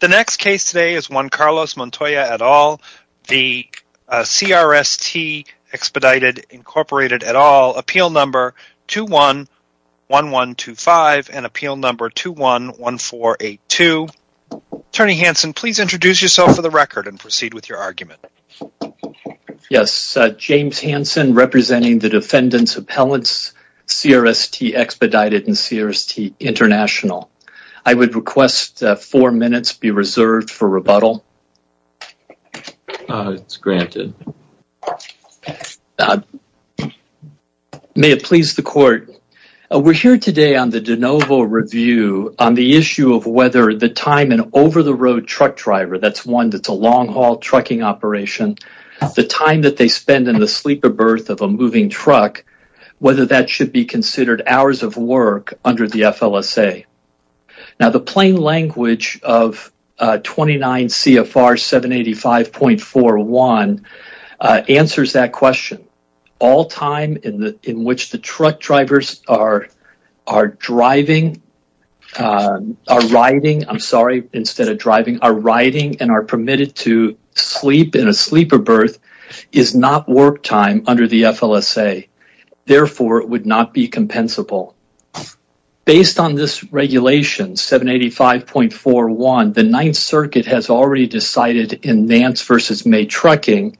The next case today is Juan Carlos Montoya et al. The CRST Expedited, Inc. et al. Appeal number 211125 and appeal number 211482. Attorney Hanson, please introduce yourself for the record and proceed with your argument. Yes, James Hanson representing the Defendant's Appellants CRST Expedited and CRST International. I would request four minutes be reserved for rebuttal. It's granted. May it please the Court. We're here today on the de novo review on the issue of whether the time an over-the-road truck driver, that's one that's a long-haul trucking operation, the time that they spend in the sleeper berth of a moving truck, whether that should be considered hours of work under the FLSA. Now the plain language of 29 CFR 785.41 answers that question. All time in which the truck drivers are driving, are riding, I'm sorry, instead of driving, are riding and are permitted to sleep in a sleeper berth is not work time under the FLSA. Therefore, it would not be compensable. Based on this regulation 785.41, the Ninth Circuit has already decided in Nance v. May trucking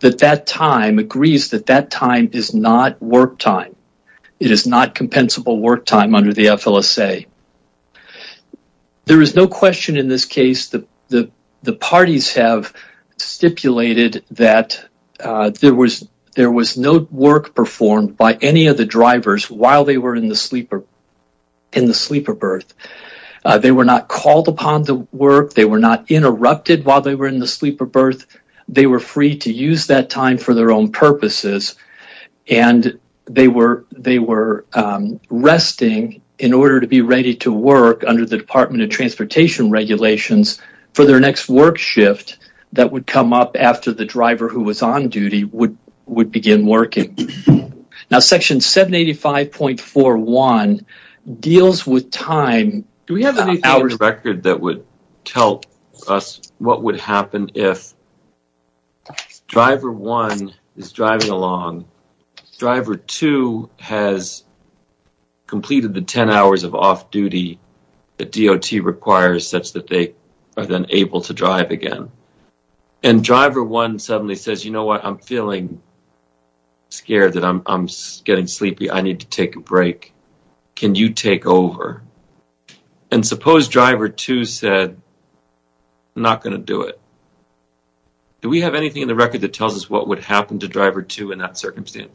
that that time agrees that that time is not work time. It is not compensable work time under the FLSA. There is no question in this case that the parties have stipulated that there was no work performed by any of the drivers while they were in the sleeper berth. They were not called upon to work. They were not interrupted while they were in the sleeper berth. They were free to use that time for their own purposes and they were resting in order to be ready to work under the Department of Transportation regulations for their next work shift that would come up after the driver who was on duty would begin working. Now section 785.41 deals with time. Do we have anything on the record that would tell us what would happen if driver one is driving along, driver two has completed the 10 hours of off-duty that DOT requires such that they are then able to drive again, and driver one suddenly says, you know what, I'm feeling scared that I'm getting sleepy. I need to take a break. Can you take over? And suppose driver two said, I'm not going to do it. Do we have anything in the record that tells us what would happen to driver two in that situation?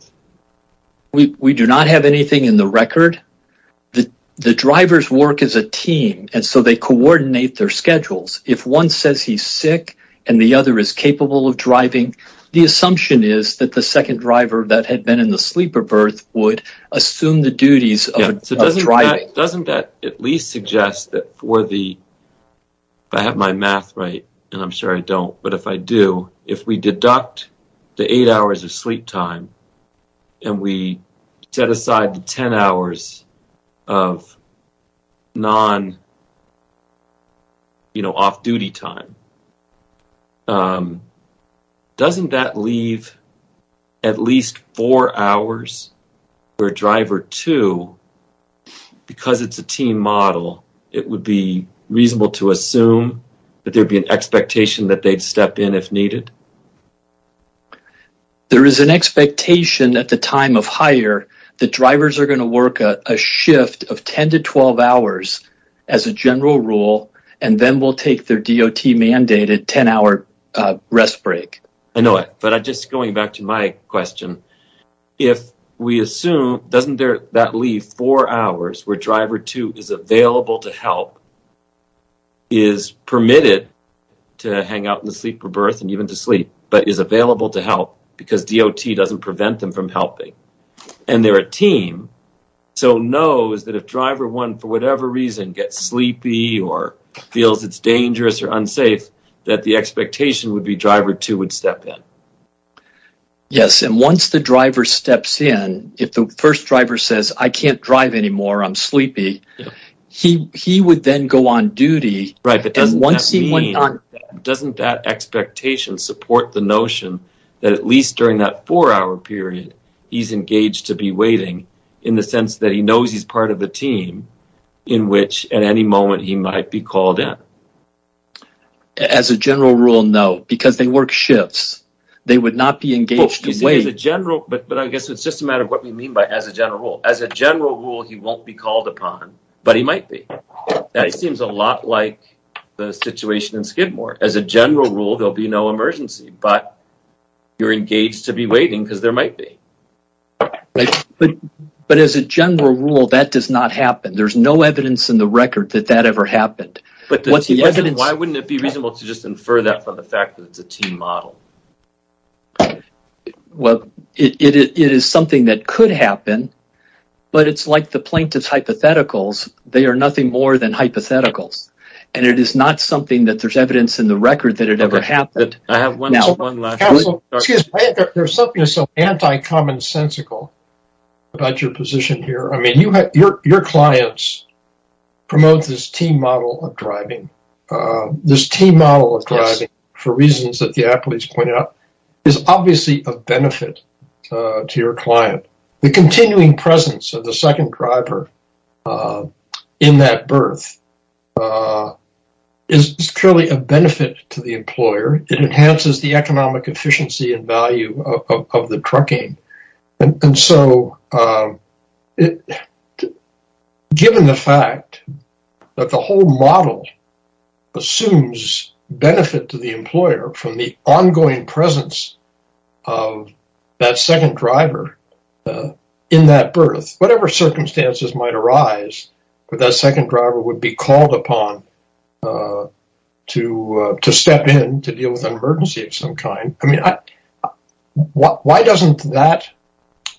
We do not have anything in the record. The drivers work as a team and so they coordinate their schedules. If one says he's sick and the other is capable of driving, the assumption is that the second driver that had been in the sleeper berth would assume the duties of driving. Doesn't that at least suggest that for the, if I have my math right, and I'm sure I don't, but if I do, if we deduct the eight hours of sleep time and we set aside the 10 hours of non, you know, off-duty time, doesn't that leave at least four hours for driver two because it's a team model, it would be reasonable to assume that there'd be an expectation that they'd step in if needed? There is an expectation at the time of hire that drivers are going to work a shift of 10 to 12 hours as a general rule and then will take their DOT mandated 10-hour rest break. I know it, but I'm just going back to my question. If we assume, doesn't that leave four hours where driver two is available to help, is permitted to hang out in the sleeper berth and even to sleep, but is available to help because DOT doesn't prevent them from helping and they're a team, so knows that if driver one, for whatever reason, gets sleepy or feels it's dangerous or unsafe, that the expectation would be driver two would step in. Yes, and once the driver steps in, if the first driver says, I can't drive anymore, I'm sleepy, he would then go on duty. Right, but doesn't that mean, doesn't that expectation support the notion that at least during that four-hour period, he's engaged to be waiting in the sense that he knows he's part of the team in which at any moment he might be called in? As a general rule, no, because they work shifts. They would not be engaged to wait. But I guess it's just a matter of what we mean by as a general rule. As a general rule, he won't be called upon, but he might be. That seems a lot like the situation in Skidmore. As a general rule, there'll be no emergency, but you're engaged to be waiting because there might be. But as a general rule, that does not happen. There's no evidence in the record that that ever happened. Why wouldn't it be reasonable to just infer that from the fact that it's a team model? Well, it is something that could happen, but it's like the plaintiff's hypotheticals. They are nothing more than hypotheticals, and it is not something that there's evidence in the record that it ever happened. I have one last question. There's something so anti-commonsensical about your position here. I mean, your clients promote this team model of driving, this team model of driving, for reasons that the athletes pointed out, is obviously a benefit to your client. The continuing presence of the second driver in that berth is truly a benefit to the employer. It enhances the economic efficiency and value of the trucking. And so, given the fact that the whole model assumes benefit to the employer from the ongoing presence of that second driver in that berth, whatever circumstances might arise for that second driver would be called upon to step in to deal with an emergency of some kind. I mean, why doesn't that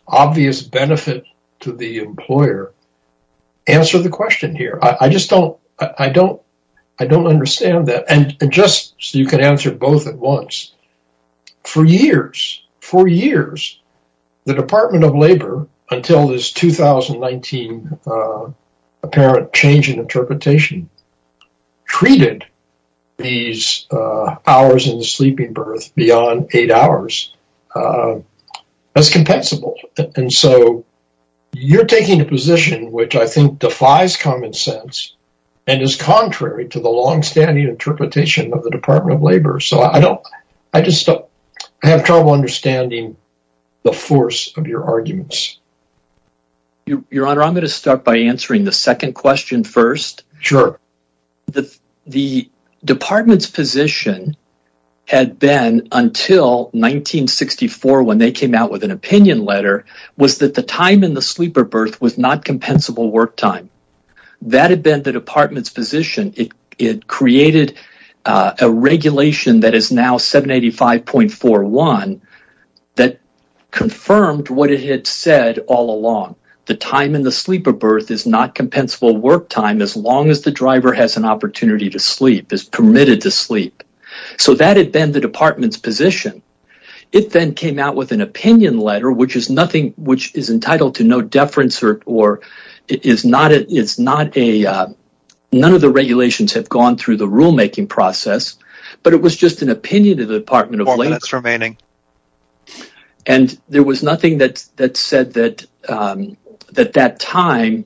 obvious benefit to the employer answer the question here? I just don't understand that. And just so you can answer both at once, for years, the Department of Labor, until this 2019 apparent change in beyond eight hours, that's compensable. And so, you're taking a position which I think defies common sense and is contrary to the long-standing interpretation of the Department of Labor. So, I don't, I just don't have trouble understanding the force of your arguments. Your Honor, I'm going to start by answering the second question first. Sure. The department's position had been until 1964 when they came out with an opinion letter was that the time in the sleeper berth was not compensable work time. That had been the department's position. It created a regulation that is now 785.41 that confirmed what it had said all along. The time in the sleeper berth is not compensable work time as long as the driver has an opportunity to sleep, is permitted to sleep. So, that had been the department's position. It then came out with an opinion letter, which is nothing, which is entitled to no deference or or it is not a, it's not a, none of the regulations have gone through the rulemaking process, but it was just an opinion of the Department of Labor. Four minutes remaining. And there was nothing that that said that that that time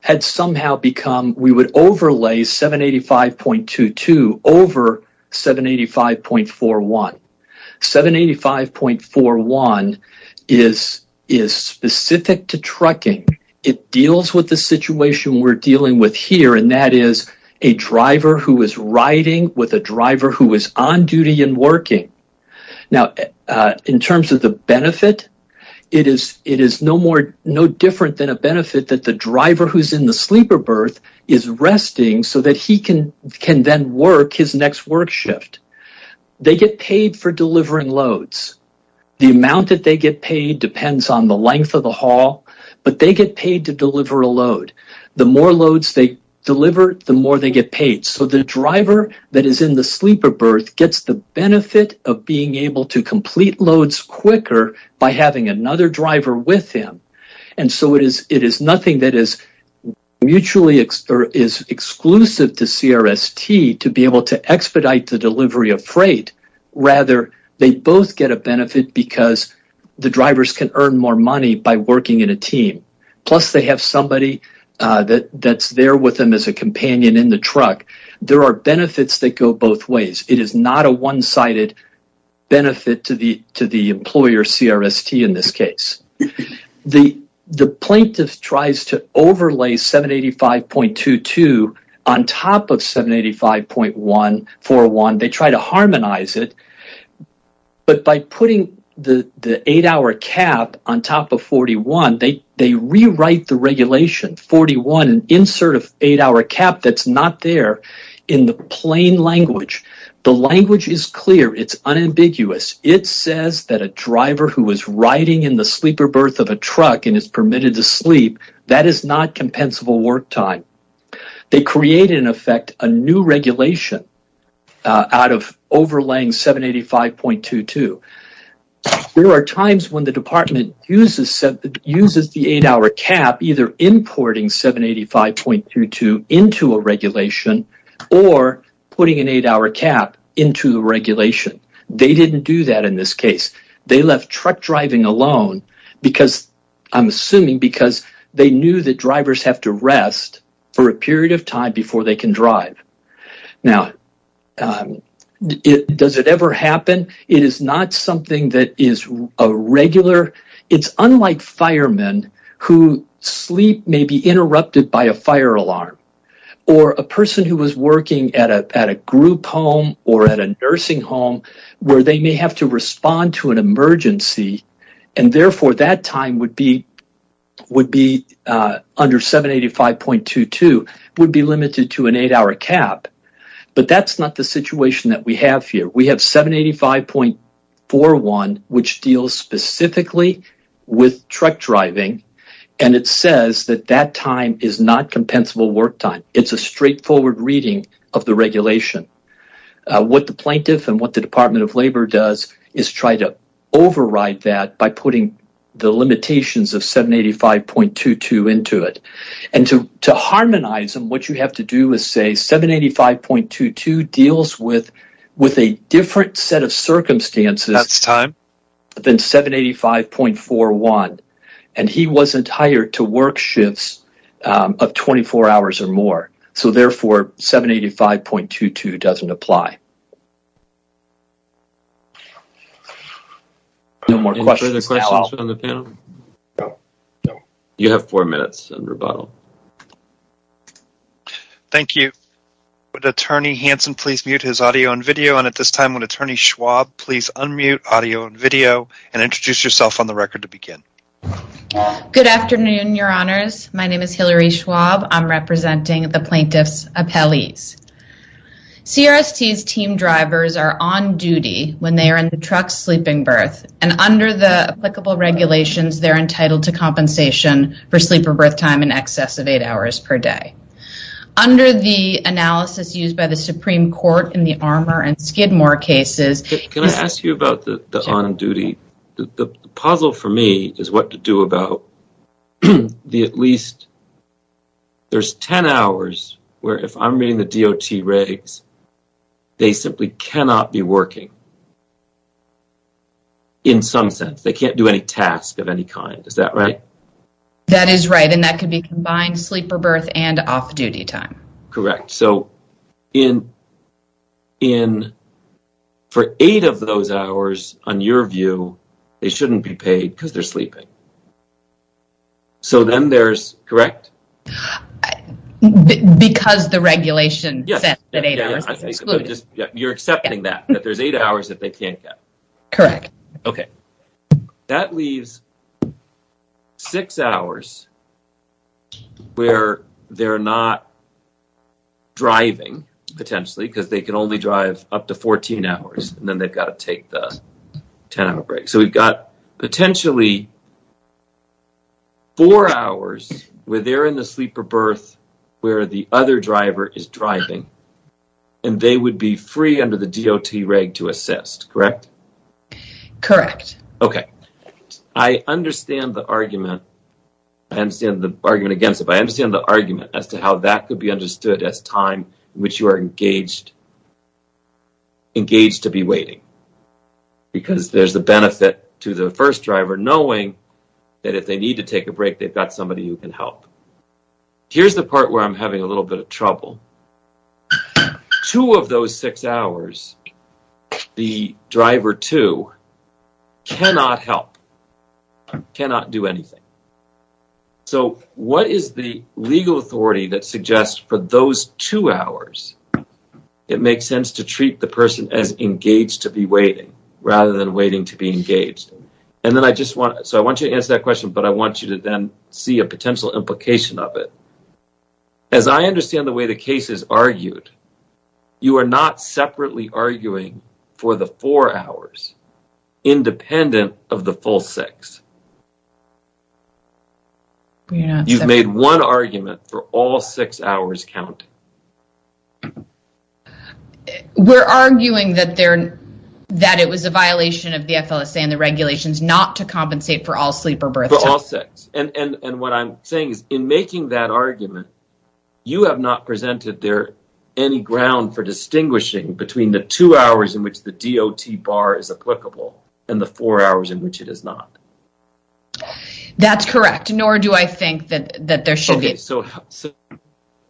had somehow become, we would overlay 785.22 over 785.41. 785.41 is specific to trucking. It deals with the situation we're dealing with here and that is a driver who is riding with a driver who is on duty and working. Now, in terms of the benefit, it is it is no more, no different than a benefit that the driver who's in the sleeper berth is resting so that he can can then work his next work shift. They get paid for delivering loads. The amount that they get paid depends on the length of the haul, but they get paid to deliver a load. The more loads they deliver, the more they get paid. So, the driver that is in the sleeper berth gets the benefit of being able to complete loads quicker by having another driver with him. And so, it is it is nothing that is mutually, is exclusive to CRST to be able to expedite the delivery of freight. Rather, they both get a benefit because the drivers can earn more money by working in a team. Plus, they have somebody that that's there with them as a companion in the truck. There are benefits that go both ways. It is not a one-sided benefit to the to the employer CRST in this case. The plaintiff tries to overlay 785.22 on top of 785.41. They try to harmonize it, but by putting the the eight-hour cap on top of 41, they rewrite the regulation. 41, an insert of eight-hour cap that's not there in the plain language. The language is clear. It's unambiguous. It says that a driver who is riding in the sleeper berth of a truck and is permitted to sleep, that is not compensable work time. They create, in effect, a new regulation out of overlaying 785.22. There are times when the department uses the eight-hour cap, either importing 785.22 into a regulation or putting an eight-hour cap into the regulation. They didn't do that in this case. They left truck driving alone because, I'm assuming, because they knew that drivers have to rest for a period of time before they can drive. Now, does it ever happen? It is not something that is a regular it's unlike firemen who sleep may be interrupted by a fire alarm or a person who was working at a group home or at a nursing home where they may have to respond to an emergency and therefore that time would be under 785.22 would be limited to an eight-hour cap, but that's not the situation that we have here. We have 785.41 which deals specifically with truck driving and it says that that time is not compensable work time. It's a straightforward reading of the regulation. What the plaintiff and what the Department of Labor does is try to override that by putting the limitations of 785.22 into it and to to harmonize them what you have to do is say 785.22 deals with with a different set of circumstances that's time than 785.41 and he wasn't hired to work shifts of 24 hours or more so therefore 785.22 doesn't apply. No more questions. You have four minutes and rebuttal. Thank you. Would attorney Hanson please mute his audio and video and at this time would attorney Schwab please unmute audio and video and introduce yourself on the record to begin. Good afternoon, your honors. My name is Hillary Schwab. I'm representing the plaintiff's appellees. CRST's team drivers are on duty when they are in the truck's sleeping berth and under the applicable regulations they're entitled to compensation for sleeper berth time in excess of eight hours per day. Under the analysis used by the Supreme Court in the Armour and Skidmore cases... Can I ask you about the on duty? The puzzle for me is what to do about the at least there's 10 hours where if I'm reading correct so in in for eight of those hours on your view they shouldn't be paid because they're sleeping. So then there's correct? Because the regulation says that eight hours is excluded. You're accepting that that there's eight hours and you're not paying for Correct. Okay that leaves six hours where they're not driving potentially because they can only drive up to 14 hours and then they've got to take the 10 hour break. So we've got potentially four hours where they're in the sleeper berth where the other driver is driving and they would be free under the DOT reg to assist correct? Correct. Okay I understand the argument I understand the argument against if I understand the argument as to how that could be understood as time in which you are engaged engaged to be waiting because there's the benefit to the first driver knowing that if they need to take a break they've got somebody who can help. Here's the part where I'm having a the driver two cannot help cannot do anything. So what is the legal authority that suggests for those two hours it makes sense to treat the person as engaged to be waiting rather than waiting to be engaged and then I just want so I want you to answer that question but I want you to then see a potential implication of it. As I for the four hours independent of the full six you've made one argument for all six hours counting. We're arguing that there that it was a violation of the FLSA and the regulations not to compensate for all sleeper berths. For all six and and and what I'm saying is in making that argument you have not presented there any ground for distinguishing between the two hours in which the DOT bar is applicable and the four hours in which it is not. That's correct nor do I think that that there should be so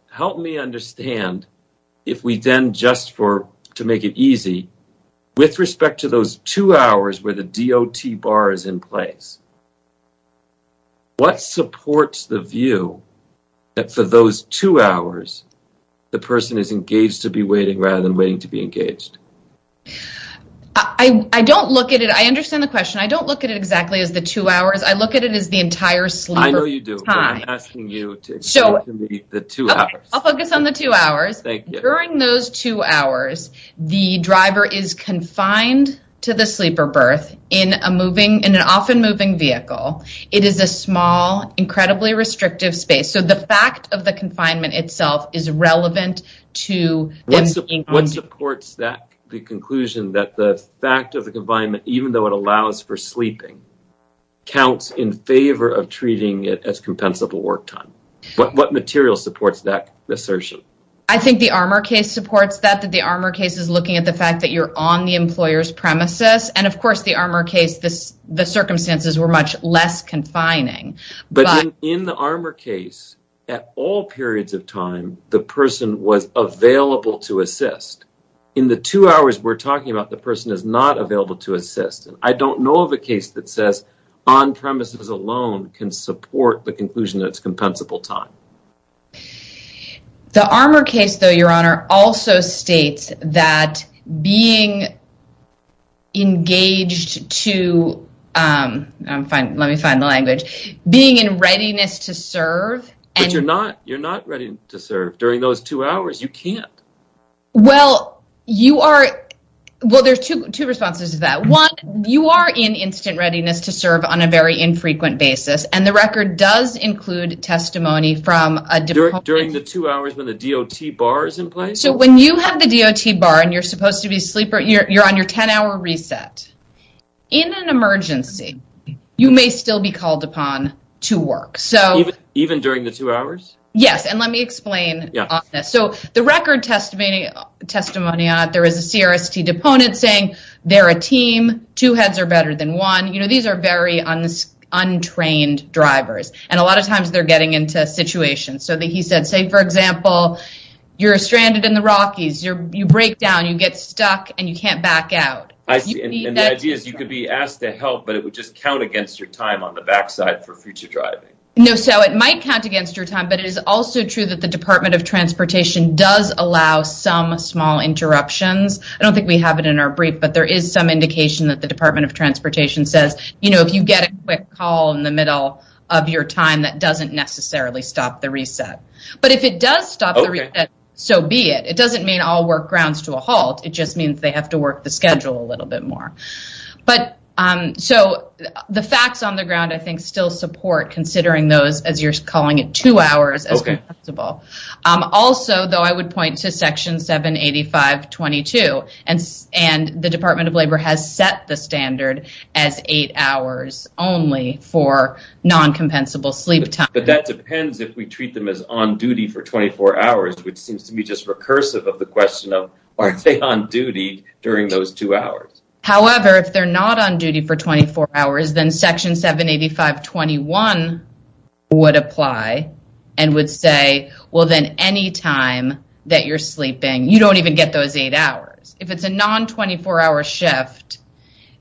help me understand if we then just for to make it easy with respect to those two hours where the DOT bar is in place. What supports the view that for those two hours the person is engaged to be waiting rather than waiting to be engaged? I don't look at it I understand the question I don't look at it exactly as the two hours I look at it as the entire sleeper. I know you do I'm asking you to show me the two hours. I'll focus on the two hours. Thank you. During those two hours the driver is confined to the sleeper in a moving in an often moving vehicle. It is a small incredibly restrictive space so the fact of the confinement itself is relevant to what supports that the conclusion that the fact of the confinement even though it allows for sleeping counts in favor of treating it as compensable work time. What material supports that assertion? I think the armor case supports that the armor case is looking at the fact that you're on the employer's premises and of course the armor case this the circumstances were much less confining. But in the armor case at all periods of time the person was available to assist. In the two hours we're talking about the person is not available to assist. I don't know of a case that says on-premises alone can support the conclusion that it's compensable time. The armor case though your honor also states that being engaged to um i'm fine let me find the language being in readiness to serve and you're not you're not ready to serve during those two hours you can't well you are well there's two two responses to that one you are in instant readiness to serve on a very infrequent basis and the record does include testimony from a during the two hours when the dot bar is in place so when you have the dot bar and you're supposed to be sleeper you're on your 10-hour reset in an emergency you may still be called upon to work so even during the two hours yes and let me explain yeah so the record testimony testimony on it there is a crst deponent saying they're a team two heads are better than one you know these are very untrained drivers and a lot of times they're getting into situations so that he said say for example you're stranded in the rockies you're you break down you get stuck and you can't back out i see and the idea is you could be asked to help but it would just count against your time on the back side for future driving no so it might count against your time but it is also true that the department of transportation does allow some small interruptions i don't think we have it in our brief but there is some indication that the department of transportation says you know if you get a quick call in the necessarily stop the reset but if it does stop so be it it doesn't mean i'll work grounds to a halt it just means they have to work the schedule a little bit more but um so the facts on the ground i think still support considering those as you're calling it two hours as compensable also though i would point to section 785 22 and and the department of labor has set the standard as eight hours only for non-compensable sleep time but that depends if we treat them as on duty for 24 hours which seems to be just recursive of the question of are they on duty during those two hours however if they're not on duty for 24 hours then section 785 21 would apply and would say well then any time that you're sleeping you don't even get those eight hours if it's a non-24 hour shift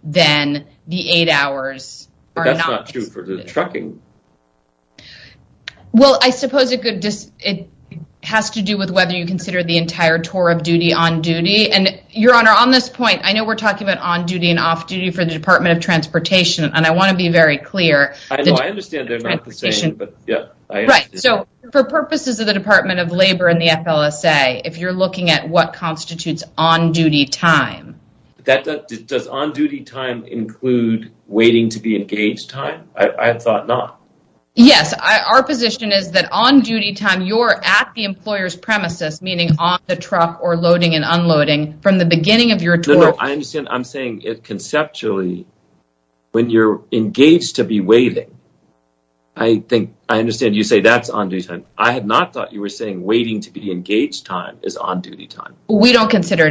then the eight hours that's not true for the trucking well i suppose it could just it has to do with whether you consider the entire tour of duty on duty and your honor on this point i know we're talking about on duty and off duty for the department of transportation and i want to be very clear i know i understand they're not the same but yeah right so for purposes of the department of labor and the flsa if you're looking at what constitutes on duty time that does on duty time include waiting to be engaged time i thought not yes our position is that on duty time you're at the employer's premises meaning on the truck or loading and unloading from the beginning of your tour i understand i'm saying it conceptually when you're engaged to be waiting i think i understand you say that's on due time i had not thought you were saying waiting to be engaged time is on i understand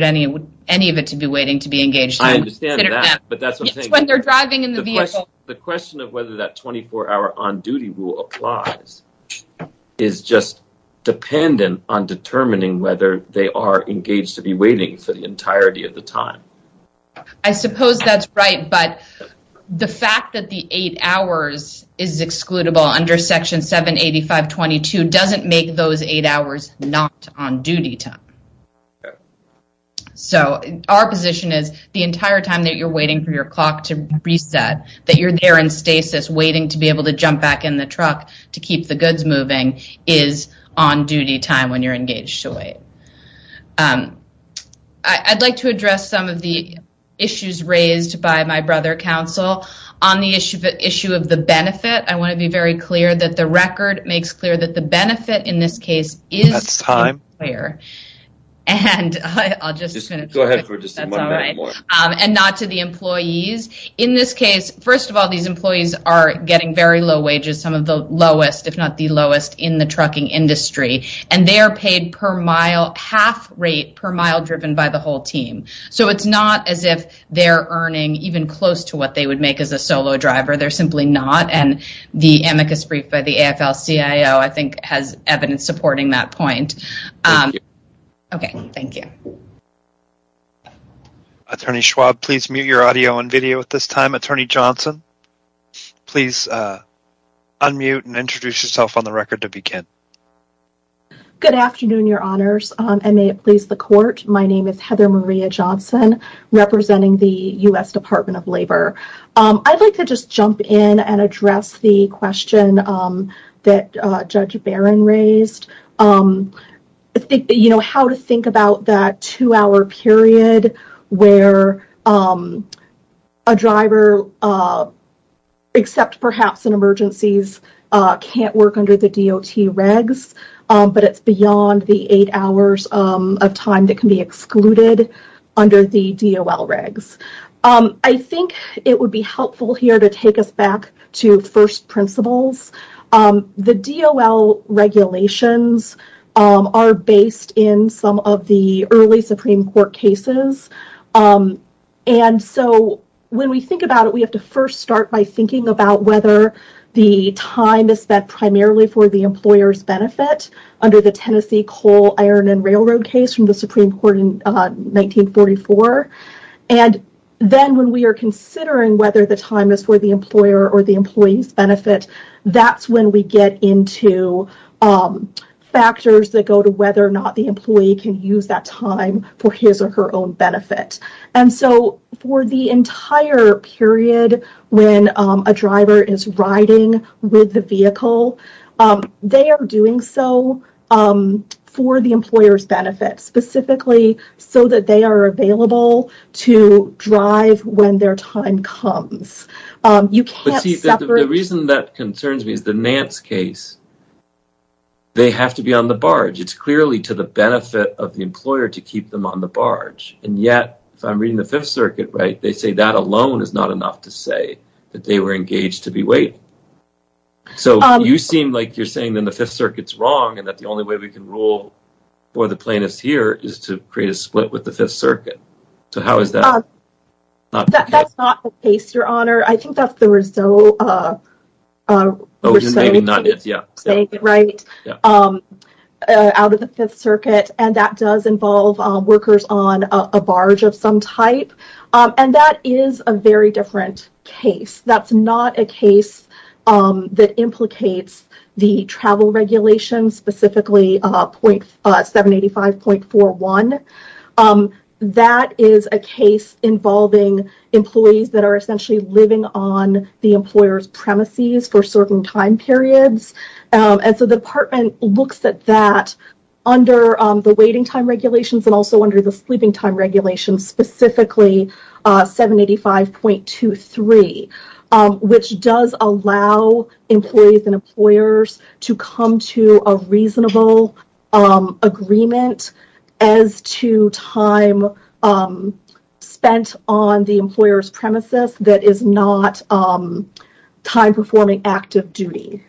that but that's when they're driving in the vehicle the question of whether that 24 hour on duty rule applies is just dependent on determining whether they are engaged to be waiting for the entirety of the time i suppose that's right but the fact that the eight hours is excludable under section 785 22 doesn't make those eight hours not on duty time okay so our position is the entire time that you're waiting for your clock to reset that you're there in stasis waiting to be able to jump back in the truck to keep the goods moving is on duty time when you're engaged to wait um i i'd like to address some of the issues raised by my brother counsel on the issue of the issue of the benefit i want to be very clear that the record makes clear that the benefit in this case is that's time clear and i'll just go ahead for just that's all right um and not to the employees in this case first of all these employees are getting very low wages some of the lowest if not the lowest in the trucking industry and they are paid per mile half rate per mile driven by the whole team so it's not as if they're earning even close to what they would make as a solo driver they're simply not and the amicus brief by the afl-cio i think has evidence supporting that point um okay thank you attorney schwab please mute your audio and video at this time attorney johnson please uh unmute and introduce yourself on the record to begin good afternoon your honors um and may it please the court my name is heather maria johnson representing the u.s department of labor um i'd like to just jump in and address the question um that uh judge barron raised um i think you know how to think about that two-hour period where um a driver uh except perhaps in emergencies uh can't work under the dot regs um but it's beyond the eight hours um of time that can be excluded under the dol regs um i think it would be helpful here to take us back to first principles um the dol regulations um are based in some of the early supreme court cases um and so when we think about it we have to first start by thinking about whether the time is spent primarily for the employer's benefit under the tennessee coal iron and railroad case from the supreme court in 1944 and then when we are considering whether the time is for the employer or the employee's benefit that's when we get into um factors that go to whether or not the employee can use that time for his or her own benefit and so for the entire period when um a driver is riding with the vehicle um they are doing so um for the employer's benefit specifically so that they are available to drive when their time comes um you can't see the reason that concerns me is the nance case they have to be on the barge it's clearly to the benefit of the employer to keep them on the barge and yet if i'm reading the fifth circuit right they say that alone is not enough to say that they were engaged to be waived so you seem like you're saying then the only way we can rule for the plaintiffs here is to create a split with the fifth circuit so how is that that's not the case your honor i think that's the result uh uh which is maybe not it's yeah saying it right um out of the fifth circuit and that does involve workers on a barge of some type um and that is a very different case that's not a case um that implicates the travel regulation specifically uh point uh 785.41 that is a case involving employees that are essentially living on the employer's premises for certain time periods and so the department looks at that under the waiting time regulations and also under the sleeping time regulation specifically uh 785.23 which does allow employees and employers to come to a reasonable um agreement as to time spent on the employer's premises that is not um time performing active duty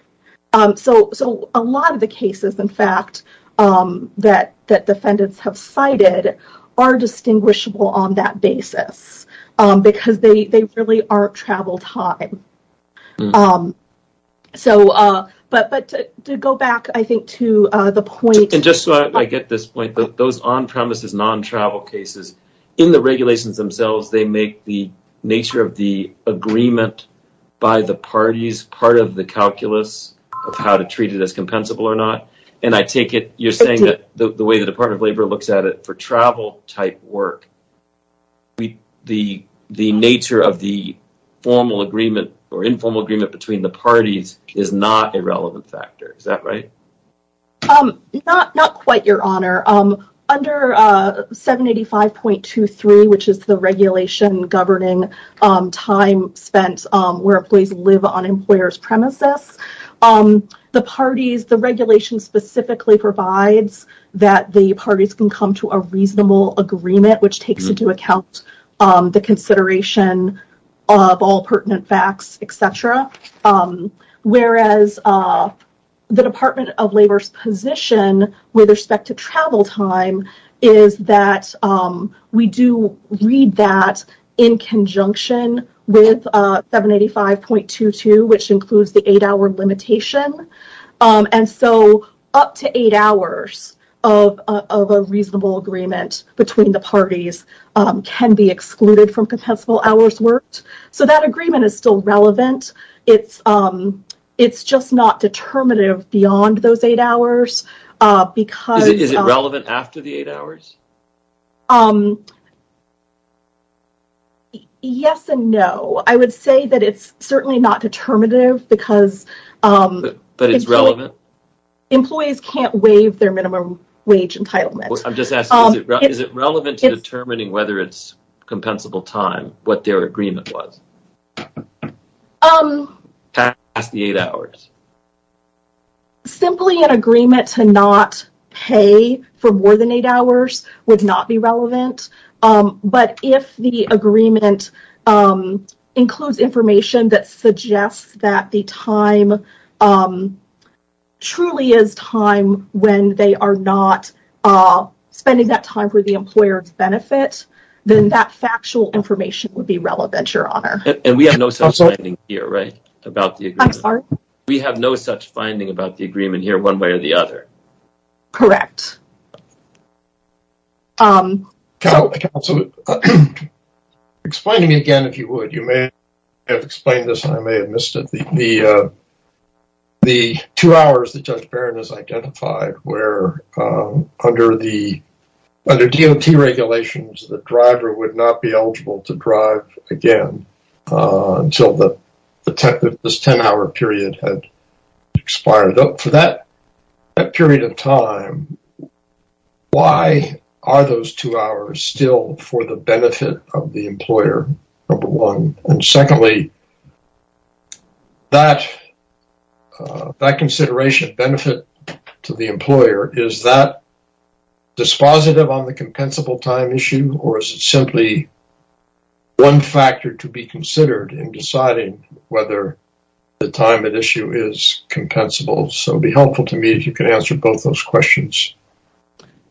um so so a lot of the cases in fact um that that defendants have cited are distinguishable on that basis um because they they really are travel time um so uh but but to go back i think to uh the point and just so i get this point that those on-premises non-travel cases in the regulations themselves they make the nature of the agreement by the parties part of the calculus of how to treat it as compensable or not and i take it you're saying that the way the department of labor looks at it for travel type work we the the nature of the formal agreement or informal agreement between the parties is not a relevant factor is that right um not not quite your honor um under uh 785.23 which is the regulation governing um time spent um where employees live on employers premises um the parties the regulation specifically provides that the parties can come to a takes into account um the consideration of all pertinent facts etc um whereas uh the department of labor's position with respect to travel time is that um we do read that in conjunction with uh 785.22 which includes the eight hour limitation um and so up to eight hours of of a reasonable agreement between the parties um can be excluded from compensable hours worked so that agreement is still relevant it's um it's just not determinative beyond those eight hours uh because is it relevant after the eight hours um yes and no i would say that it's certainly not determinative because um but it's relevant employees can't waive their minimum wage entitlement i'm just asking is it relevant to determining whether it's compensable time what their agreement was um past the eight hours simply an agreement to not pay for more than eight hours would not be relevant um but if the agreement um includes information that suggests that the time um truly is time when they are not uh spending that time for the employer to benefit then that factual information would be relevant your honor and we have no such finding here right about the agreement we have no such finding about the agreement here one way or the other correct um so explaining again if you would you may have explained this i may have missed it the uh the two hours that judge barron has identified where uh under the under dot regulations the driver would not be eligible to drive again until the detective this 10 hour period had expired up for that that period of time why are those two hours still for the benefit of the employer number one and secondly that that consideration benefit to the employer is that dispositive on the compensable time issue or is it simply one factor to be considered in deciding whether the time at issue is compensable so be helpful to me if you can answer both those questions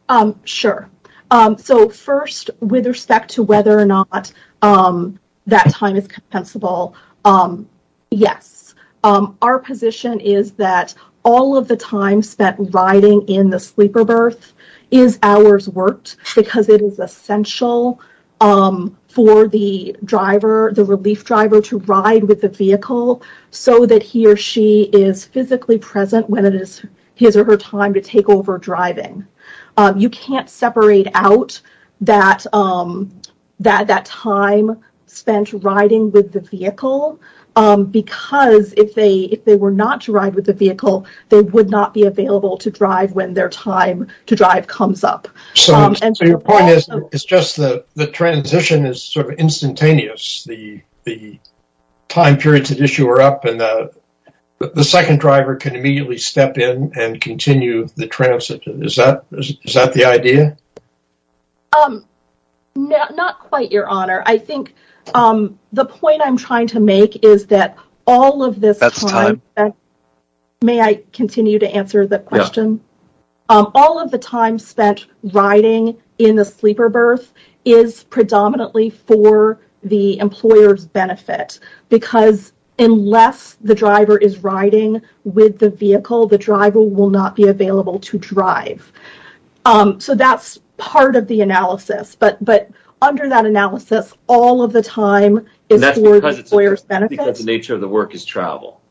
um sure um so first with respect to whether or not um that time is compensable um yes um our position is that all of the time spent riding in the sleeper berth is ours worked because it is essential um for the driver the relief driver to ride with the vehicle so that he or she is physically present when it is his or her time to take over driving um you can't separate out that um that that time spent riding with the vehicle um because if they if they were not to ride with the vehicle they would not be available to drive when their time to drive comes up so and so your point is it's just the the transition is sort of instantaneous the the time periods at issue are up and the the second driver can immediately step in and continue the transit is that is that the idea um not quite your honor i think um the point i'm trying to make is that all of this time may i continue to answer the question um all of the time spent riding in the sleeper berth is predominantly for the employer's benefit because unless the driver is riding with the vehicle the driver will not be available to drive um so that's part of the analysis but but under that analysis all of the time is for the employer's benefit because the nature of the work is travel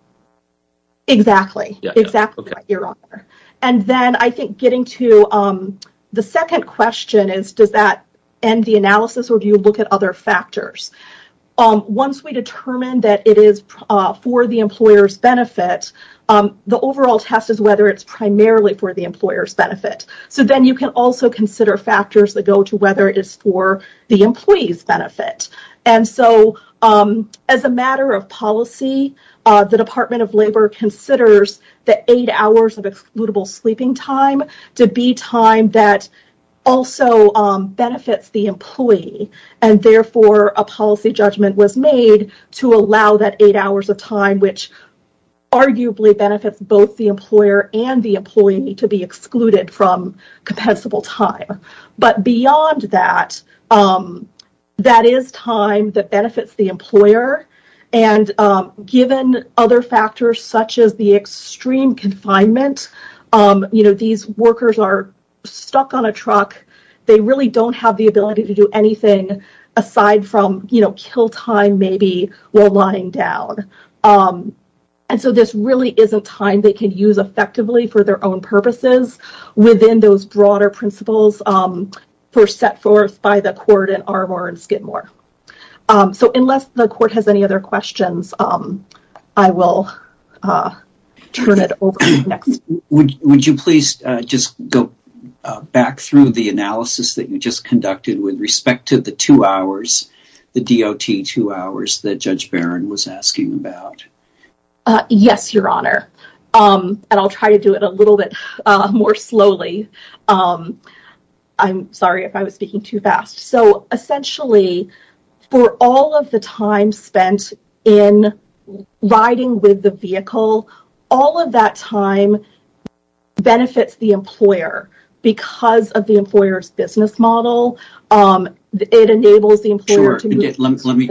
exactly exactly your honor and then i think getting to um the second question is does that end the analysis or do you look at other factors um once we determine that it is uh for the employer's benefit um the overall test is whether it's primarily for the employer's benefit so then you can also consider factors that go to whether it is for the employee's benefit and so um as a matter of policy uh the department of labor considers the eight hours of excludable sleeping time to be time that also um benefits the employee and therefore a policy judgment was made to allow that eight hours of time which arguably benefits both the employer and the employee to be excluded from compensable time but beyond that um that is time that benefits the employer and um given other factors such as the extreme confinement um you know these workers are stuck on a truck they really don't have the ability to do anything aside from you know kill time maybe while lying down um and so this really isn't time they can use effectively for their own purposes within those broader principles um for set forth by the court in Armour and Skidmore um so unless the court has any other questions um i will uh turn it over next would you please uh just go back through the analysis that you just conducted with respect to the two hours the dot two hours that judge barron was asking about uh yes your honor um and i'll try to do it a little bit uh more slowly um i'm sorry if i was speaking too fast so essentially for all of the time spent in riding with the vehicle all of that time benefits the employer because of the employer's business model um it enables the employer let me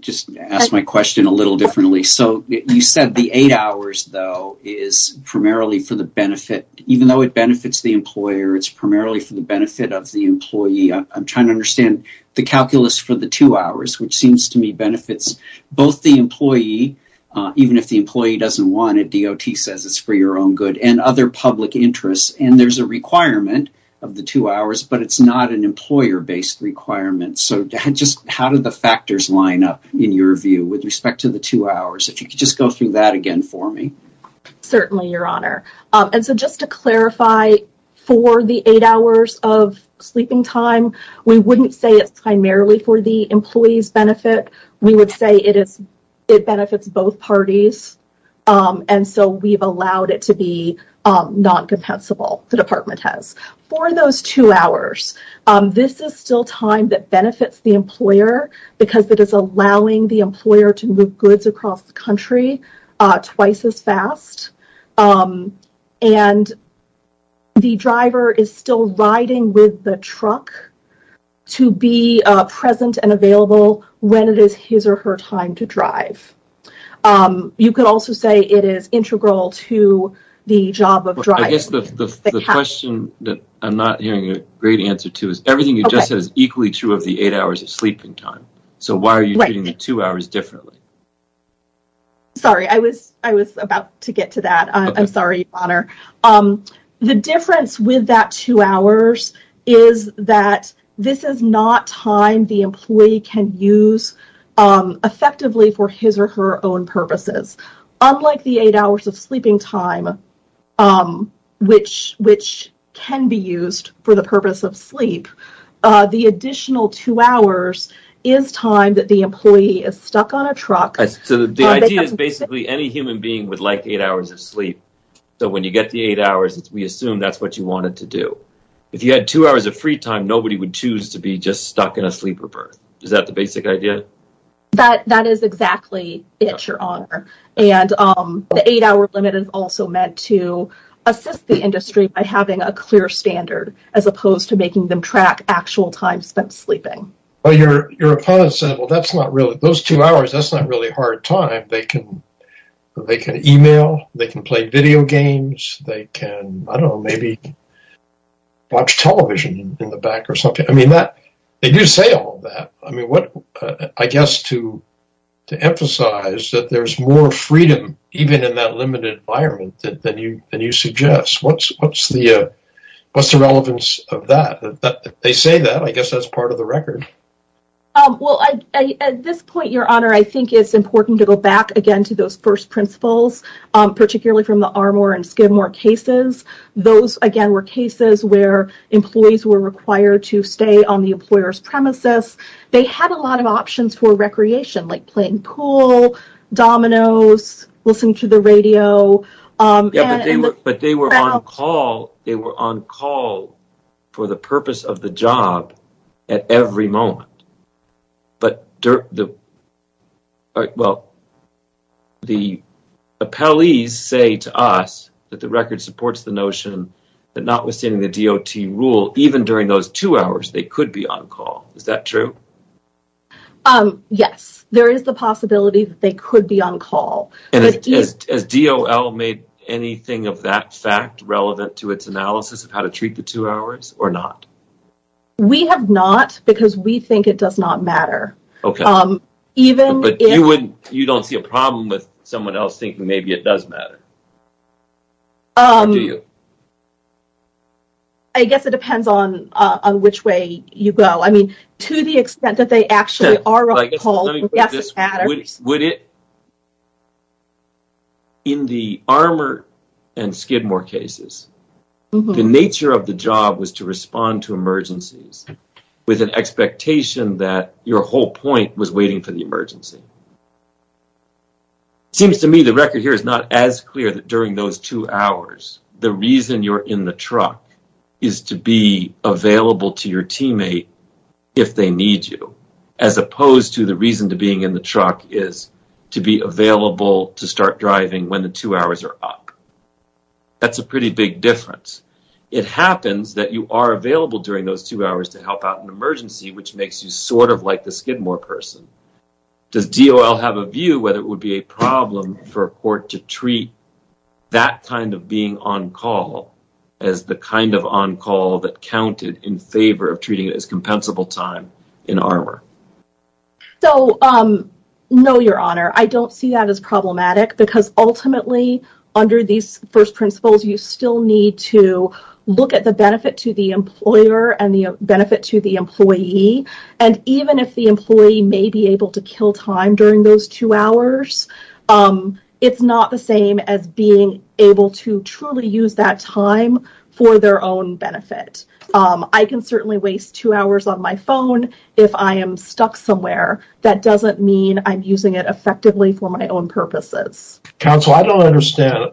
just ask my question a little differently so you said the eight hours though is primarily for the benefit even though it benefits the employer it's primarily for the benefit of the employee i'm trying to understand the calculus for the two hours which seems to me benefits both the employee even if the employee doesn't want it dot says it's for your own good and other public interests and there's a requirements so just how did the factors line up in your view with respect to the two hours if you could just go through that again for me certainly your honor um and so just to clarify for the eight hours of sleeping time we wouldn't say it's primarily for the employee's benefit we would say it is it benefits both parties um and so we've allowed it to be um compensable the department has for those two hours um this is still time that benefits the employer because it is allowing the employer to move goods across the country uh twice as fast um and the driver is still riding with the truck to be uh present and available when it is his or her time to drive um you could also say it is integral to the job of driving the question that i'm not hearing a great answer to is everything you just said is equally true of the eight hours of sleeping time so why are you treating the two hours differently sorry i was i was about to get to that i'm sorry honor um the difference with that two hours is that this is not time the employee can use um effectively for his or her own purposes unlike the eight hours of sleeping time um which which can be used for the purpose of sleep uh the additional two hours is time that the employee is stuck on a truck so the idea is basically any human being would like eight hours of sleep so when you get the eight hours we assume that's what you wanted to do if you had two hours of free time nobody would choose to be just stuck in a sleeper berth is that the basic idea that that is exactly it your honor and um the eight hour limit is also meant to assist the industry by having a clear standard as opposed to making them track actual time spent sleeping well your your opponent said well that's not really those two hours that's not really hard time they can they can email they can play video games they can i don't know maybe watch television in the back or something i mean that they do say all that i mean what i guess to to emphasize that there's more freedom even in that limited environment than you than you suggest what's what's the uh what's the relevance of that that they say that i guess that's part of the record um well i at this point your honor i think it's important to go back again to those first principles um particularly from the armor and skid more cases those again were cases where employees were required to stay on the employer's premises they had a lot of options for recreation like playing pool dominoes listening to the radio um yeah but they were but they were on call they were on call for the purpose of the job at every moment but the all right well the appellees say to us that the record supports the notion that notwithstanding the dot rule even during those two hours they could be on call is that true um yes there is the possibility that they could be on call and as dol made anything of that fact relevant to its analysis of how to treat the two hours or not we have not because we think it does not matter okay um even but you wouldn't you don't see a problem with someone else thinking maybe it does matter um do you i guess it depends on uh on which way you go i mean to the extent that they actually are on call yes it matters would it in the armor and skid more cases the nature of the job was to respond to emergencies with an expectation that your whole point was waiting for the emergency it seems to me the record here is not as clear that during those two hours the reason you're in the truck is to be available to your teammate if they need you as opposed to the reason to being in the truck is to be available to start driving when the two hours are up that's a pretty big difference it happens that you are available during those two hours to help out an emergency which makes you sort of like the skid more person does dol have a view whether it would be a problem for a court to treat that kind of being on call as the kind of on call that counted in favor of treating it as compensable time in armor so um no your honor i don't see that as problematic because ultimately under these first principles you still need to look at the benefit to the employer and the benefit to the employee and even if the employee may be able to kill time during those two hours um it's not the same as being able to truly use that time for their own benefit um i can certainly waste two hours on my phone if i am stuck somewhere that doesn't mean i'm using it effectively for my own purposes counsel i don't understand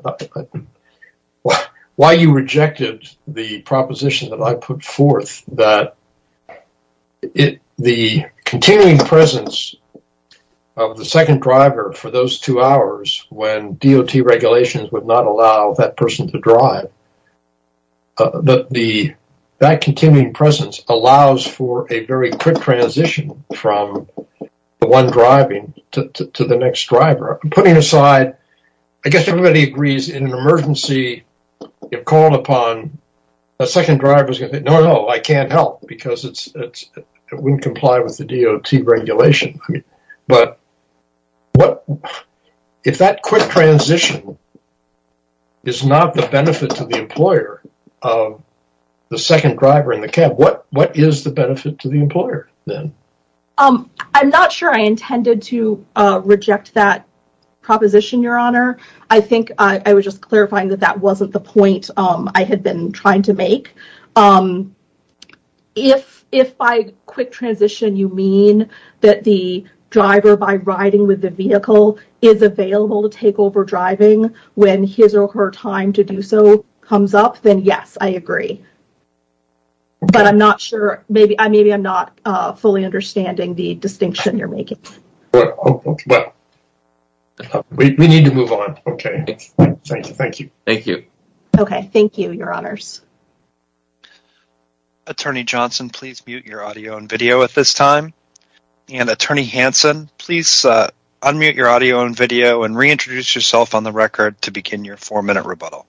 why you rejected the proposition that i put forth that it the continuing presence of the second driver for those two hours when dot regulations would not allow that person to drive but the that continuing presence allows for a very quick transition from the one driving to to the next driver putting aside i guess everybody agrees in an emergency if called upon a second driver's gonna say no no i can't help because it's it's it wouldn't comply with the dot regulation but what if that quick transition is not the benefit to the employer of the second driver in the cab what what is the benefit to the employer then um i'm not sure i intended to uh reject that proposition your honor i think i was just clarifying that that wasn't the point um i had been trying to make um if if by quick transition you mean that the driver by riding with the vehicle is available to take over driving when his or her time to do so comes up then yes i agree but i'm not sure maybe i maybe i'm not uh fully understanding the distinction you're making well we need to move on okay thank you thank you thank you okay thank you your honors attorney johnson please mute your audio and video at this time and attorney hansen please uh unmute your audio and video and reintroduce yourself on the record to begin your four minute rebuttal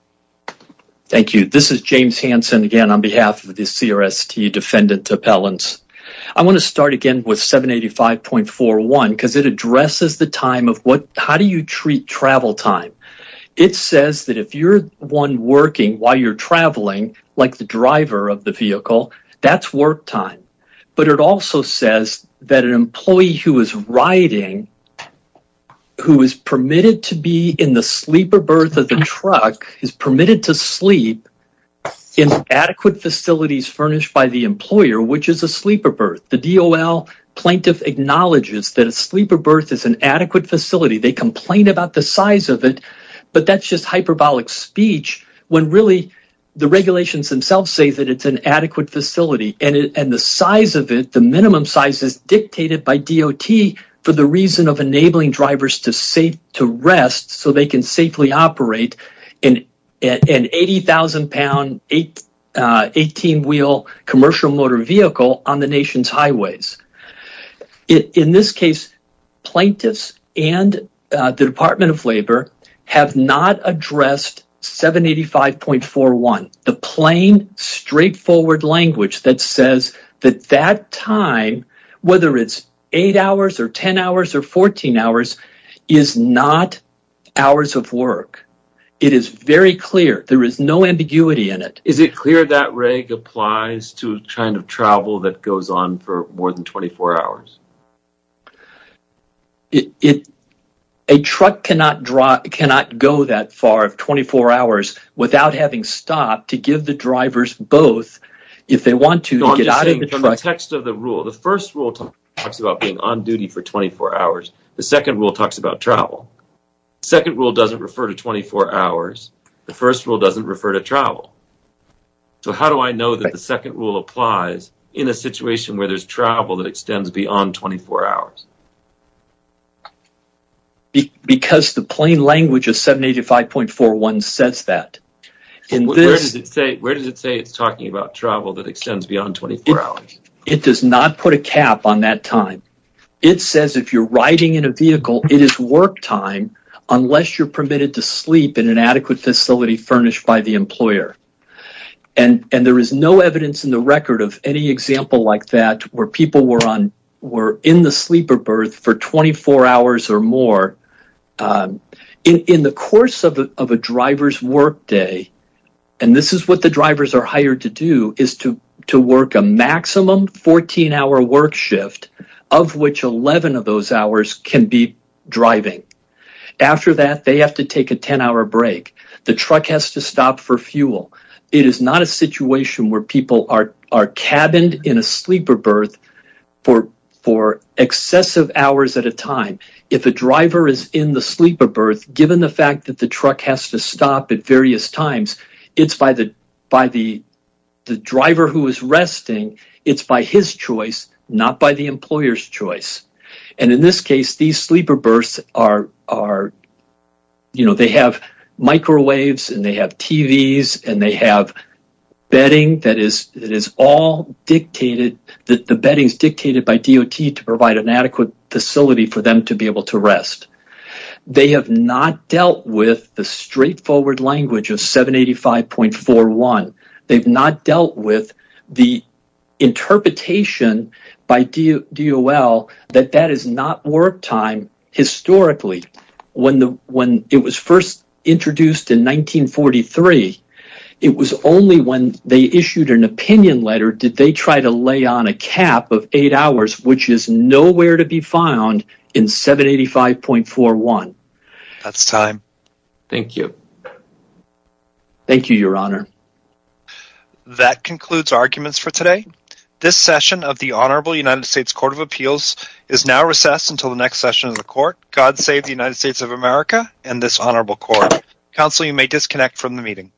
thank you this is james hansen again on behalf of the crst defendant appellants i want to start again with 785.41 because it addresses the time of what how do you treat travel time it says that if you're one working while you're traveling like the driver of the vehicle that's work time but it also says that an employee who is riding who is permitted to be in the sleeper berth of the truck is permitted to sleep in adequate facilities furnished by the employer which is a sleeper berth the dol plaintiff acknowledges that a sleeper berth is an adequate facility they complain about the size of it but that's just hyperbolic speech when really the regulations themselves say that it's an adequate facility and and the size of it the minimum size is dictated by dot for the reason of enabling drivers to safe to rest so they can safely operate in an 80 000 pound 18 wheel commercial motor vehicle on the nation's highways in this case plaintiffs and the department of labor have not addressed 785.41 the plain straightforward language that says that that time whether it's eight hours or 10 hours or hours of work it is very clear there is no ambiguity in it is it clear that reg applies to trying to travel that goes on for more than 24 hours it a truck cannot draw cannot go that far of 24 hours without having stopped to give the drivers both if they want to get out of the text of the rule the first rule talks about being on duty for 24 hours the second rule talks about travel second rule doesn't refer to 24 hours the first rule doesn't refer to travel so how do i know that the second rule applies in a situation where there's travel that extends beyond 24 hours because the plain language of 785.41 says that and where does it say where does it say it's talking about travel that extends beyond 24 hours it does not put a cap on that time it says if you're riding in a vehicle it is work time unless you're permitted to sleep in an adequate facility furnished by the employer and and there is no evidence in the record of any example like that where people were on were in the sleeper berth for 24 hours or more in in the course of a driver's work day and this is what the drivers are hired to do is to to work a maximum 14 hour work shift of which 11 of those hours can be driving after that they have to take a 10 hour break the truck has to stop for fuel it is not a situation where people are are cabined in a sleeper berth for for excessive hours at a time if a driver is in the sleeper berth given the fact that the truck has to stop at various times it's by the by the the driver who is resting it's by his choice not by the employer's choice and in this case these sleeper berths are are you know they have microwaves and they have tvs and they have bedding that is it is all dictated that the bedding is dictated by dot to provide an adequate facility for them to be able to rest they have not dealt with the straightforward language of 785.41 they've not dealt with the interpretation by dol that that is not work time historically when the when it was first introduced in 1943 it was only when they issued an opinion letter did they try to lay on a cap of eight hours which is nowhere to be found in 785.41 that's time thank you thank you your honor that concludes arguments for today this session of the honorable united states court of appeals is now recessed until the next session of the court god save the united states of america and this honorable court council you may disconnect from the meeting